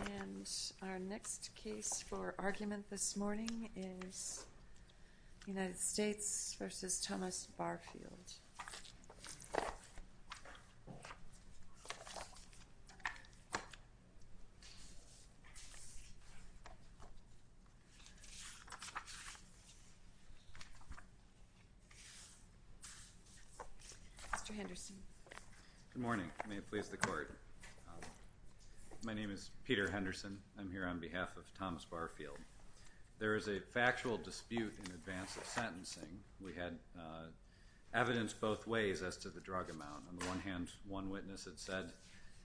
And our next case for argument this morning is United States v. Thomas Barfield. Mr. Henderson. Good morning. May it please the Court. My name is Peter Henderson. I'm here on behalf of Thomas Barfield. There is a factual dispute in advance of sentencing. We had evidence both ways as to the drug amount. On the one hand, one witness had said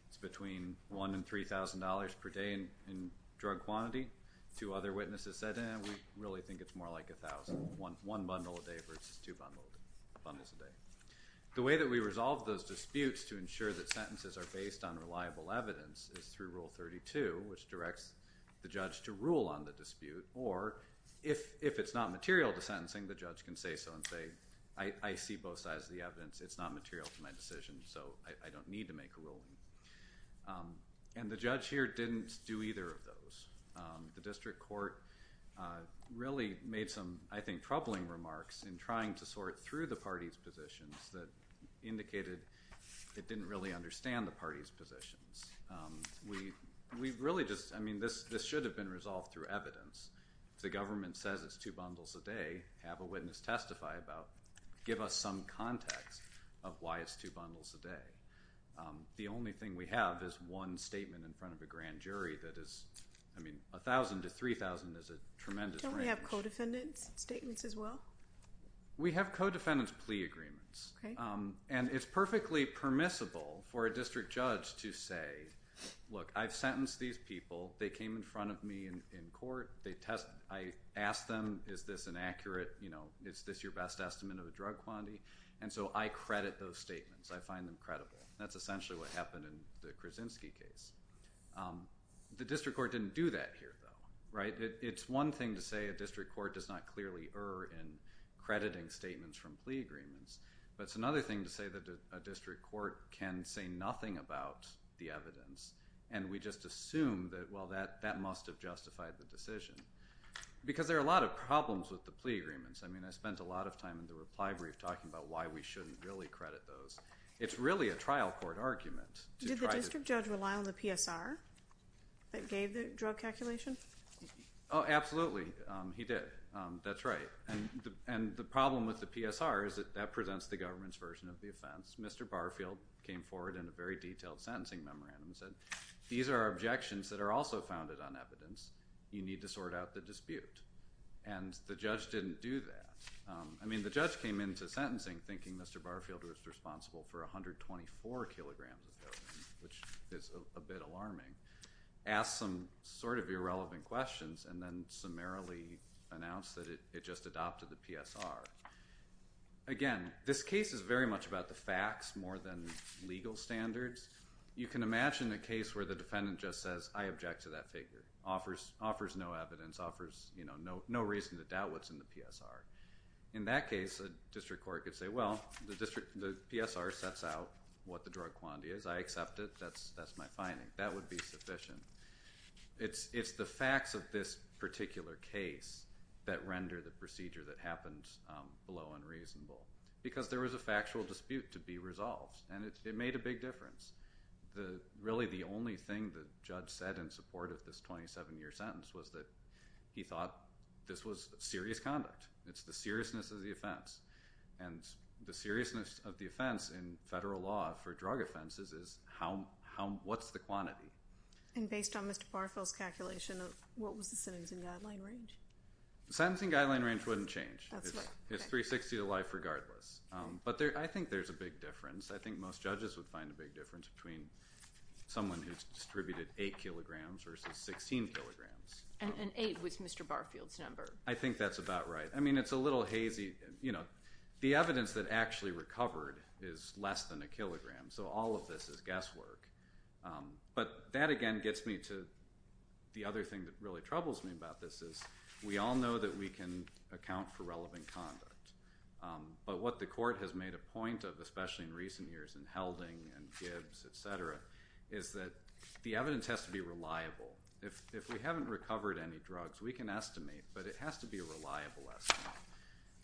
it's between $1,000 and $3,000 per day in drug quantity. Two other witnesses said, eh, we really think it's more like $1,000, one bundle a day versus two bundles a day. The way that we resolve those disputes to ensure that sentences are based on reliable evidence is through Rule 32, which directs the judge to rule on the dispute, or if it's not material to sentencing, the judge can say so and say, I see both sides of the evidence. It's not material to my decision, so I don't need to make a ruling. And the judge here didn't do either of those. The district court really made some, I think, troubling remarks in trying to sort through the parties' positions that indicated it didn't really understand the parties' positions. We really just, I mean, this should have been resolved through evidence. If the government says it's two bundles a day, have a witness testify about, give us some context of why it's two bundles a day. The only thing we have is one statement in front of a grand jury that is, I mean, 1,000 to 3,000 is a tremendous range. Don't we have co-defendants' statements as well? We have co-defendants' plea agreements. And it's perfectly permissible for a district judge to say, look, I've sentenced these people. They came in front of me in court. I asked them, is this an accurate, you know, is this your best estimate of the drug quantity? And so I credit those statements. I find them credible. That's essentially what happened in the Krasinski case. The district court didn't do that here, though, right? It's one thing to say a district court does not clearly err in crediting statements from plea agreements, but it's another thing to say that a district court can say nothing about the evidence, and we just assume that, well, that must have justified the decision. Because there are a lot of problems with the plea agreements. I mean, I spent a lot of time in the reply brief talking about why we shouldn't really credit those. It's really a trial court argument. Did the district judge rely on the PSR that gave the drug calculation? Oh, absolutely. He did. That's right. And the problem with the PSR is that that presents the government's version of the offense. Mr. Barfield came forward in a very detailed sentencing memorandum and said, these are objections that are also founded on evidence. You need to sort out the dispute. And the judge didn't do that. I mean, the judge came into sentencing thinking Mr. Barfield was responsible for 124 kilograms of heroin, which is a bit alarming, asked some sort of irrelevant questions, and then summarily announced that it just adopted the PSR. Again, this case is very much about the facts more than legal standards. You can imagine a case where the defendant just says, I object to that figure, offers no evidence, offers no reason to doubt what's in the PSR. In that case, a district court could say, well, the PSR sets out what the drug quantity is. I accept it. That's my finding. That would be sufficient. It's the facts of this particular case that render the procedure that happens below unreasonable because there was a factual dispute to be resolved, and it made a big difference. Really, the only thing the judge said in support of this 27-year sentence was that he thought this was serious conduct. It's the seriousness of the offense. And the seriousness of the offense in federal law for drug offenses is what's the quantity. And based on Mr. Barfield's calculation, what was the sentencing guideline range? The sentencing guideline range wouldn't change. It's 360 to life regardless. But I think there's a big difference. I think most judges would find a big difference between someone who's distributed 8 kilograms versus 16 kilograms. And 8 was Mr. Barfield's number. I think that's about right. I mean, it's a little hazy. The evidence that actually recovered is less than a kilogram, so all of this is guesswork. But that, again, gets me to the other thing that really troubles me about this is we all know that we can account for relevant conduct. But what the court has made a point of, especially in recent years in Helding and Gibbs, et cetera, is that the evidence has to be reliable. If we haven't recovered any drugs, we can estimate, but it has to be a reliable estimate.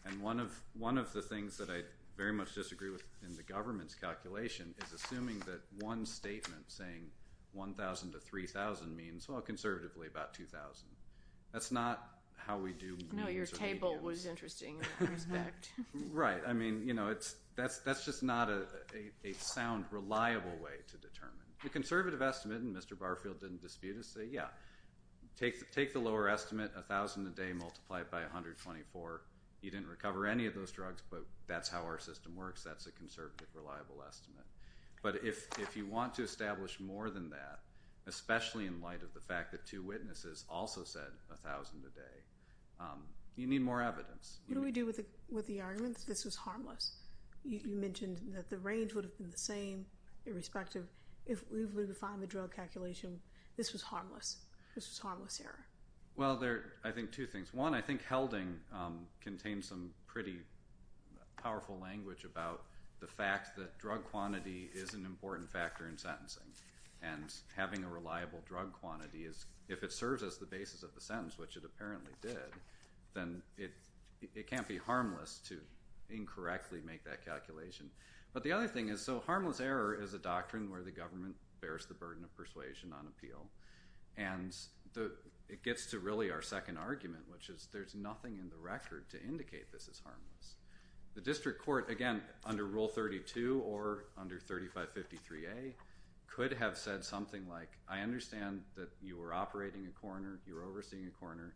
And one of the things that I very much disagree with in the government's calculation is assuming that one statement saying 1,000 to 3,000 means, well, conservatively about 2,000. That's not how we do these reviews. The table was interesting in that respect. Right. I mean, you know, that's just not a sound, reliable way to determine. The conservative estimate, and Mr. Barfield didn't dispute it, is to say, yeah, take the lower estimate, 1,000 a day multiplied by 124. You didn't recover any of those drugs, but that's how our system works. That's a conservative, reliable estimate. But if you want to establish more than that, especially in light of the fact that two witnesses also said 1,000 a day, you need more evidence. What do we do with the argument that this was harmless? You mentioned that the range would have been the same, irrespective. If we were to find the drug calculation, this was harmless. This was a harmless error. Well, there are, I think, two things. One, I think Helding contains some pretty powerful language about the fact that drug quantity is an important factor in sentencing. And having a reliable drug quantity is, if it serves as the basis of the sentence, which it apparently did, then it can't be harmless to incorrectly make that calculation. But the other thing is, so harmless error is a doctrine where the government bears the burden of persuasion on appeal. And it gets to really our second argument, which is there's nothing in the record to indicate this is harmless. The district court, again, under Rule 32 or under 3553A, could have said something like, I understand that you were operating a coroner, you were overseeing a coroner.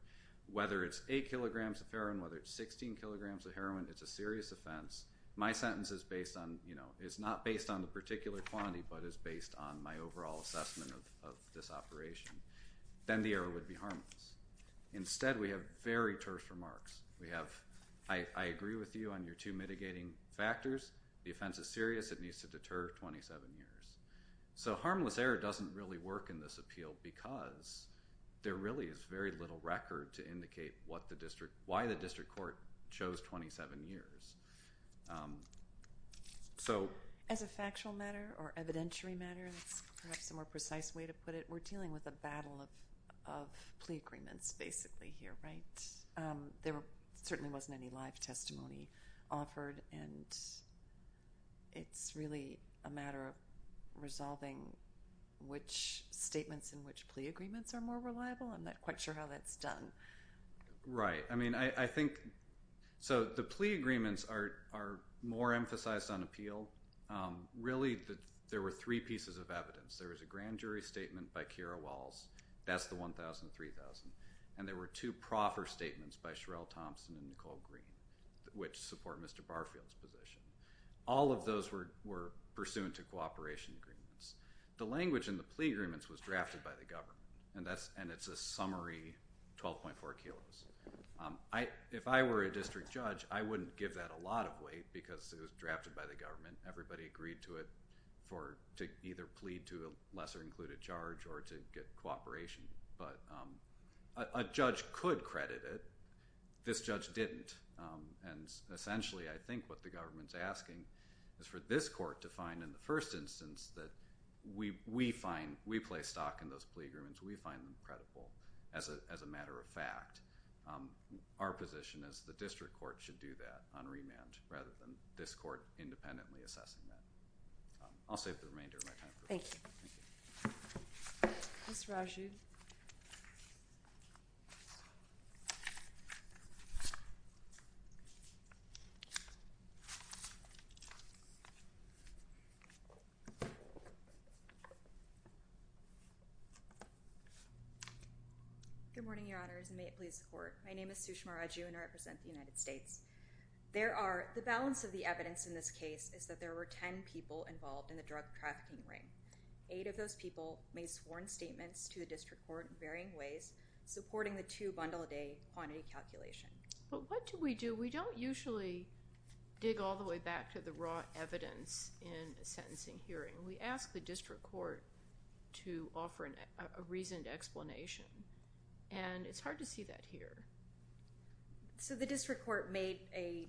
Whether it's 8 kilograms of heroin, whether it's 16 kilograms of heroin, it's a serious offense. My sentence is not based on the particular quantity but is based on my overall assessment of this operation. Then the error would be harmless. Instead, we have very terse remarks. We have, I agree with you on your two mitigating factors. The offense is serious. It needs to deter 27 years. So harmless error doesn't really work in this appeal because there really is very little record to indicate why the district court chose 27 years. As a factual matter or evidentiary matter, that's perhaps a more precise way to put it, we're dealing with a battle of plea agreements basically here, right? There certainly wasn't any live testimony offered. And it's really a matter of resolving which statements in which plea agreements are more reliable. I'm not quite sure how that's done. Right. I mean, I think so the plea agreements are more emphasized on appeal. Really, there were three pieces of evidence. There was a grand jury statement by Keira Walls. That's the 1,000 and 3,000. And there were two proffer statements by Sherelle Thompson and Nicole Green, which support Mr. Barfield's position. All of those were pursuant to cooperation agreements. The language in the plea agreements was drafted by the government, and it's a summary 12.4 kilos. If I were a district judge, I wouldn't give that a lot of weight because it was drafted by the government. Everybody agreed to it to either plead to a lesser included charge or to get cooperation. But a judge could credit it. This judge didn't. And essentially, I think what the government's asking is for this court to find in the first instance that we find, we place stock in those plea agreements, we find them credible as a matter of fact. Our position is the district court should do that on remand rather than this court independently assessing that. I'll save the remainder of my time. Thank you. Ms. Raju. Good morning, Your Honors, and may it please the court. My name is Sushma Raju, and I represent the United States. The balance of the evidence in this case is that there were ten people involved in the drug trafficking ring. Eight of those people made sworn statements to the district court in varying ways, supporting the two-bundle-a-day quantity calculation. But what do we do? We don't usually dig all the way back to the raw evidence in a sentencing hearing. We ask the district court to offer a reasoned explanation, and it's hard to see that here. So the district court made a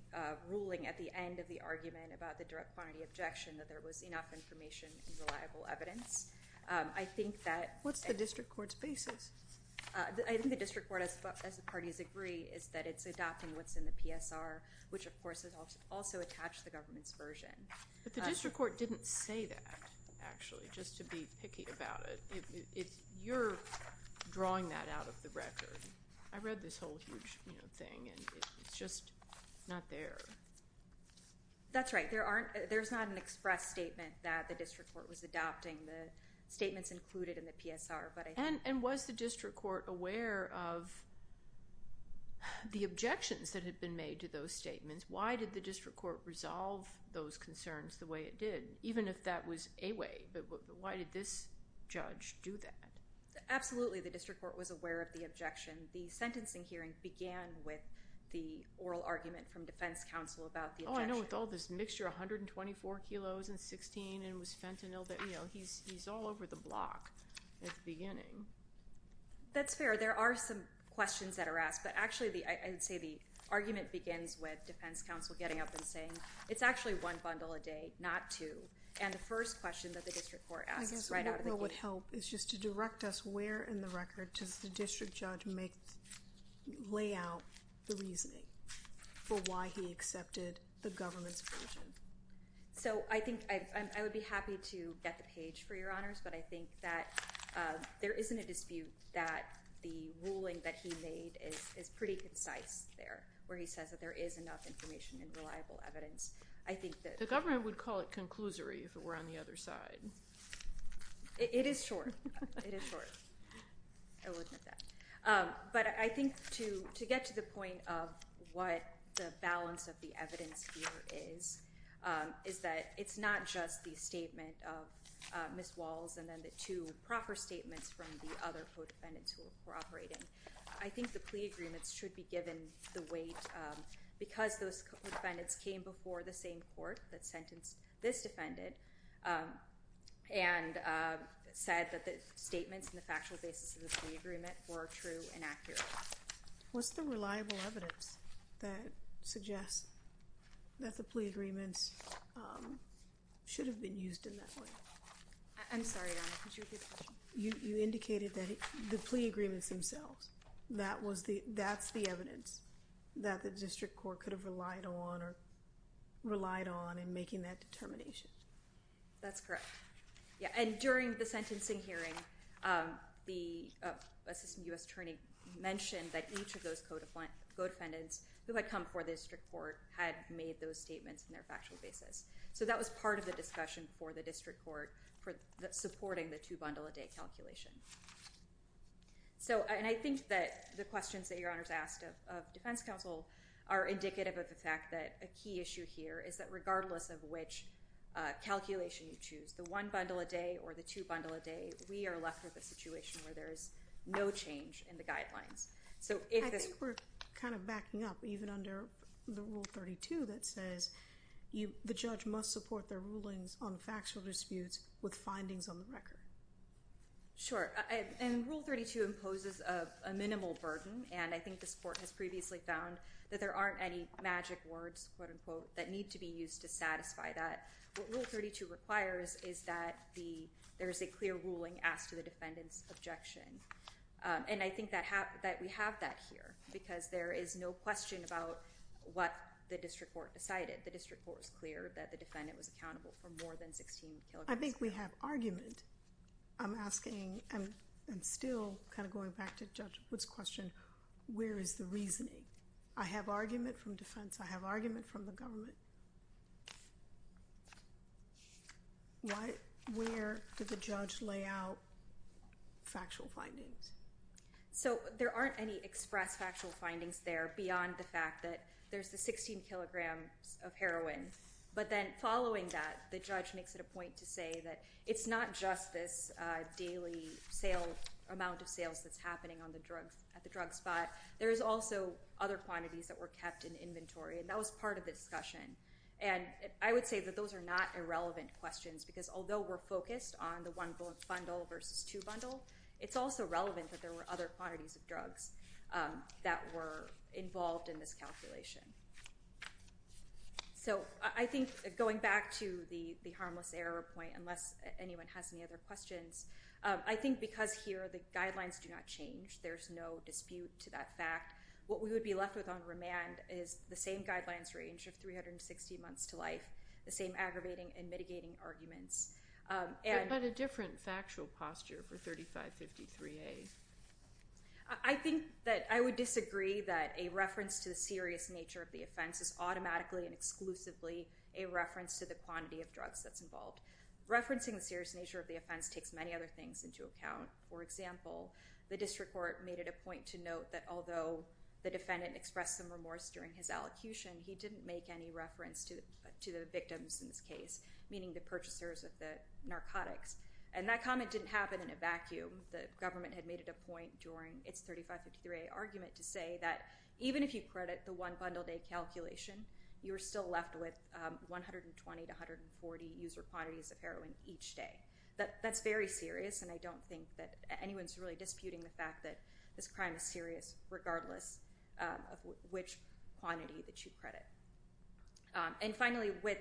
ruling at the end of the argument about the direct quantity objection that there was enough information and reliable evidence. I think that— What's the district court's basis? I think the district court, as the parties agree, is that it's adopting what's in the PSR, which, of course, has also attached the government's version. But the district court didn't say that, actually, just to be picky about it. You're drawing that out of the record. I read this whole huge thing, and it's just not there. That's right. There's not an express statement that the district court was adopting. The statement's included in the PSR. And was the district court aware of the objections that had been made to those statements? Why did the district court resolve those concerns the way it did, even if that was a way? But why did this judge do that? Absolutely, the district court was aware of the objection. The sentencing hearing began with the oral argument from defense counsel about the objection. Oh, I know, with all this mixture, 124 kilos and 16, and it was fentanyl. He's all over the block at the beginning. That's fair. There are some questions that are asked. But actually, I would say the argument begins with defense counsel getting up and saying, it's actually one bundle a day, not two. And the first question that the district court asks right out of the gate— Where in the record does the district judge lay out the reasoning for why he accepted the government's version? I would be happy to get the page for your honors, but I think that there isn't a dispute that the ruling that he made is pretty concise there, where he says that there is enough information and reliable evidence. The government would call it conclusory if it were on the other side. It is short. It is short. I will admit that. But I think to get to the point of what the balance of the evidence here is, is that it's not just the statement of Ms. Walls and then the two proper statements from the other co-defendants who were operating. I think the plea agreements should be given the weight because those co-defendants came before the same court that sentenced this defendant and said that the statements and the factual basis of the plea agreement were true and accurate. What's the reliable evidence that suggests that the plea agreements should have been used in that way? I'm sorry, Your Honor. Could you repeat the question? You indicated that the plea agreements themselves, that's the evidence that the district court could have relied on or relied on in making that determination. That's correct. And during the sentencing hearing, the Assistant U.S. Attorney mentioned that each of those co-defendants who had come before the district court had made those statements in their factual basis. So that was part of the discussion before the district court for supporting the two-bundle-a-day calculation. So, and I think that the questions that Your Honor's asked of defense counsel are indicative of the fact that a key issue here is that regardless of which calculation you choose, the one-bundle-a-day or the two-bundle-a-day, we are left with a situation where there is no change in the guidelines. I think we're kind of backing up even under the Rule 32 that says the judge must support their rulings on factual disputes with findings on the record. Sure. And Rule 32 imposes a minimal burden, and I think this court has previously found that there aren't any magic words, quote-unquote, that need to be used to satisfy that. What Rule 32 requires is that there is a clear ruling asked to the defendant's objection. And I think that we have that here because there is no question about what the district court decided. The district court was clear that the defendant was accountable for more than 16 killings. Well, I think we have argument. I'm asking, and still kind of going back to Judge Wood's question, where is the reasoning? I have argument from defense. I have argument from the government. Where did the judge lay out factual findings? So there aren't any expressed factual findings there beyond the fact that there's the 16 kilograms of heroin. But then following that, the judge makes it a point to say that it's not just this daily amount of sales that's happening at the drug spot. There is also other quantities that were kept in inventory, and that was part of the discussion. And I would say that those are not irrelevant questions because although we're focused on the one bundle versus two bundle, it's also relevant that there were other quantities of drugs that were involved in this calculation. So I think going back to the harmless error point, unless anyone has any other questions, I think because here the guidelines do not change, there's no dispute to that fact, what we would be left with on remand is the same guidelines range of 360 months to life, the same aggravating and mitigating arguments. But a different factual posture for 3553A. I think that I would disagree that a reference to the serious nature of the offense is automatically and exclusively a reference to the quantity of drugs that's involved. Referencing the serious nature of the offense takes many other things into account. For example, the district court made it a point to note that although the defendant expressed some remorse during his allocution, he didn't make any reference to the victims in this case, meaning the purchasers of the narcotics. And that comment didn't happen in a vacuum. The government had made it a point during its 3553A argument to say that even if you credit the one bundle day calculation, you're still left with 120 to 140 user quantities of heroin each day. That's very serious, and I don't think that anyone's really disputing the fact that this crime is serious, regardless of which quantity that you credit. And finally, with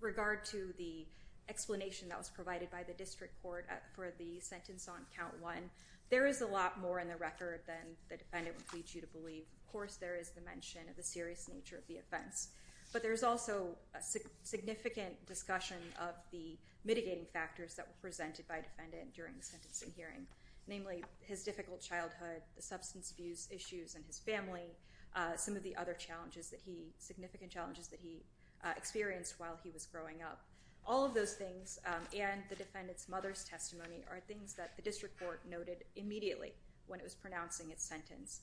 regard to the explanation that was provided by the district court for the sentence on count one, there is a lot more in the record than the defendant would plead you to believe. Of course, there is the mention of the serious nature of the offense, but there is also a significant discussion of the mitigating factors that were presented by defendant during the sentencing hearing, namely his difficult childhood, the substance abuse issues in his family, some of the other significant challenges that he experienced while he was growing up. All of those things, and the defendant's mother's testimony, are things that the district court noted immediately when it was pronouncing its sentence.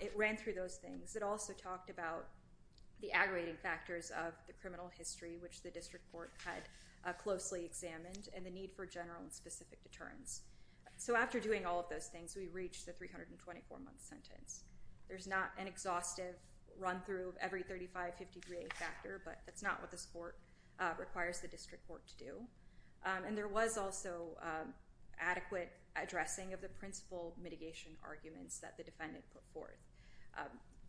It ran through those things. It also talked about the aggravating factors of the criminal history, which the district court had closely examined, and the need for general and specific deterrents. So after doing all of those things, we reached the 324-month sentence. There's not an exhaustive run-through of every 35-50 degree factor, but that's not what this court requires the district court to do. And there was also adequate addressing of the principal mitigation arguments that the defendant put forth.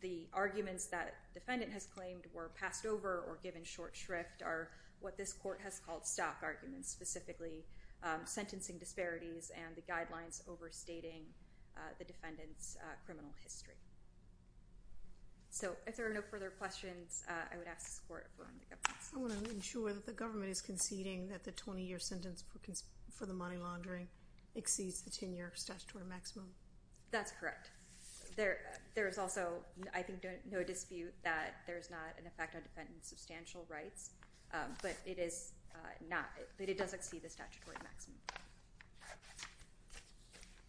The arguments that defendant has claimed were passed over or given short shrift are what this court has called stock arguments, specifically sentencing disparities and the guidelines overstating the defendant's criminal history. So if there are no further questions, I would ask this court to affirm the evidence. I want to ensure that the government is conceding that the 20-year sentence for the money laundering exceeds the 10-year statutory maximum. That's correct. There is also, I think, no dispute that there is not an effect on defendant's substantial rights, but it does exceed the statutory maximum.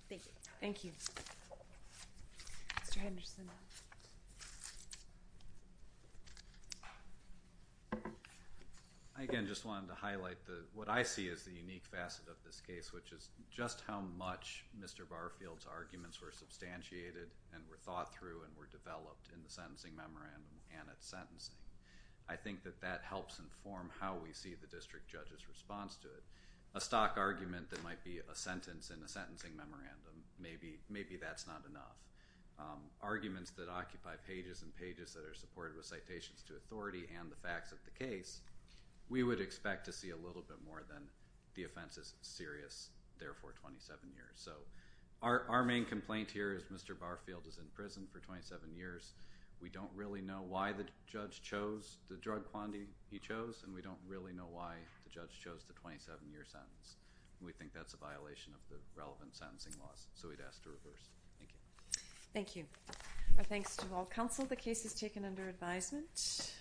Thank you. Thank you. Mr. Henderson. I, again, just wanted to highlight what I see as the unique facet of this case, which is just how much Mr. Barfield's arguments were substantiated and were thought through and were developed in the sentencing memorandum and at sentencing. I think that that helps inform how we see the district judge's response to it. A stock argument that might be a sentence in a sentencing memorandum, maybe that's not enough. Arguments that occupy pages and pages that are supported with citations to authority and the facts of the case, we would expect to see a little bit more than the offense is serious, therefore 27 years. So our main complaint here is Mr. Barfield is in prison for 27 years. We don't really know why the judge chose the drug quantity he chose, and we don't really know why the judge chose the 27-year sentence. We think that's a violation of the relevant sentencing laws, so we'd ask to reverse. Thank you. Thank you. Our thanks to all counsel. The case is taken under advisement.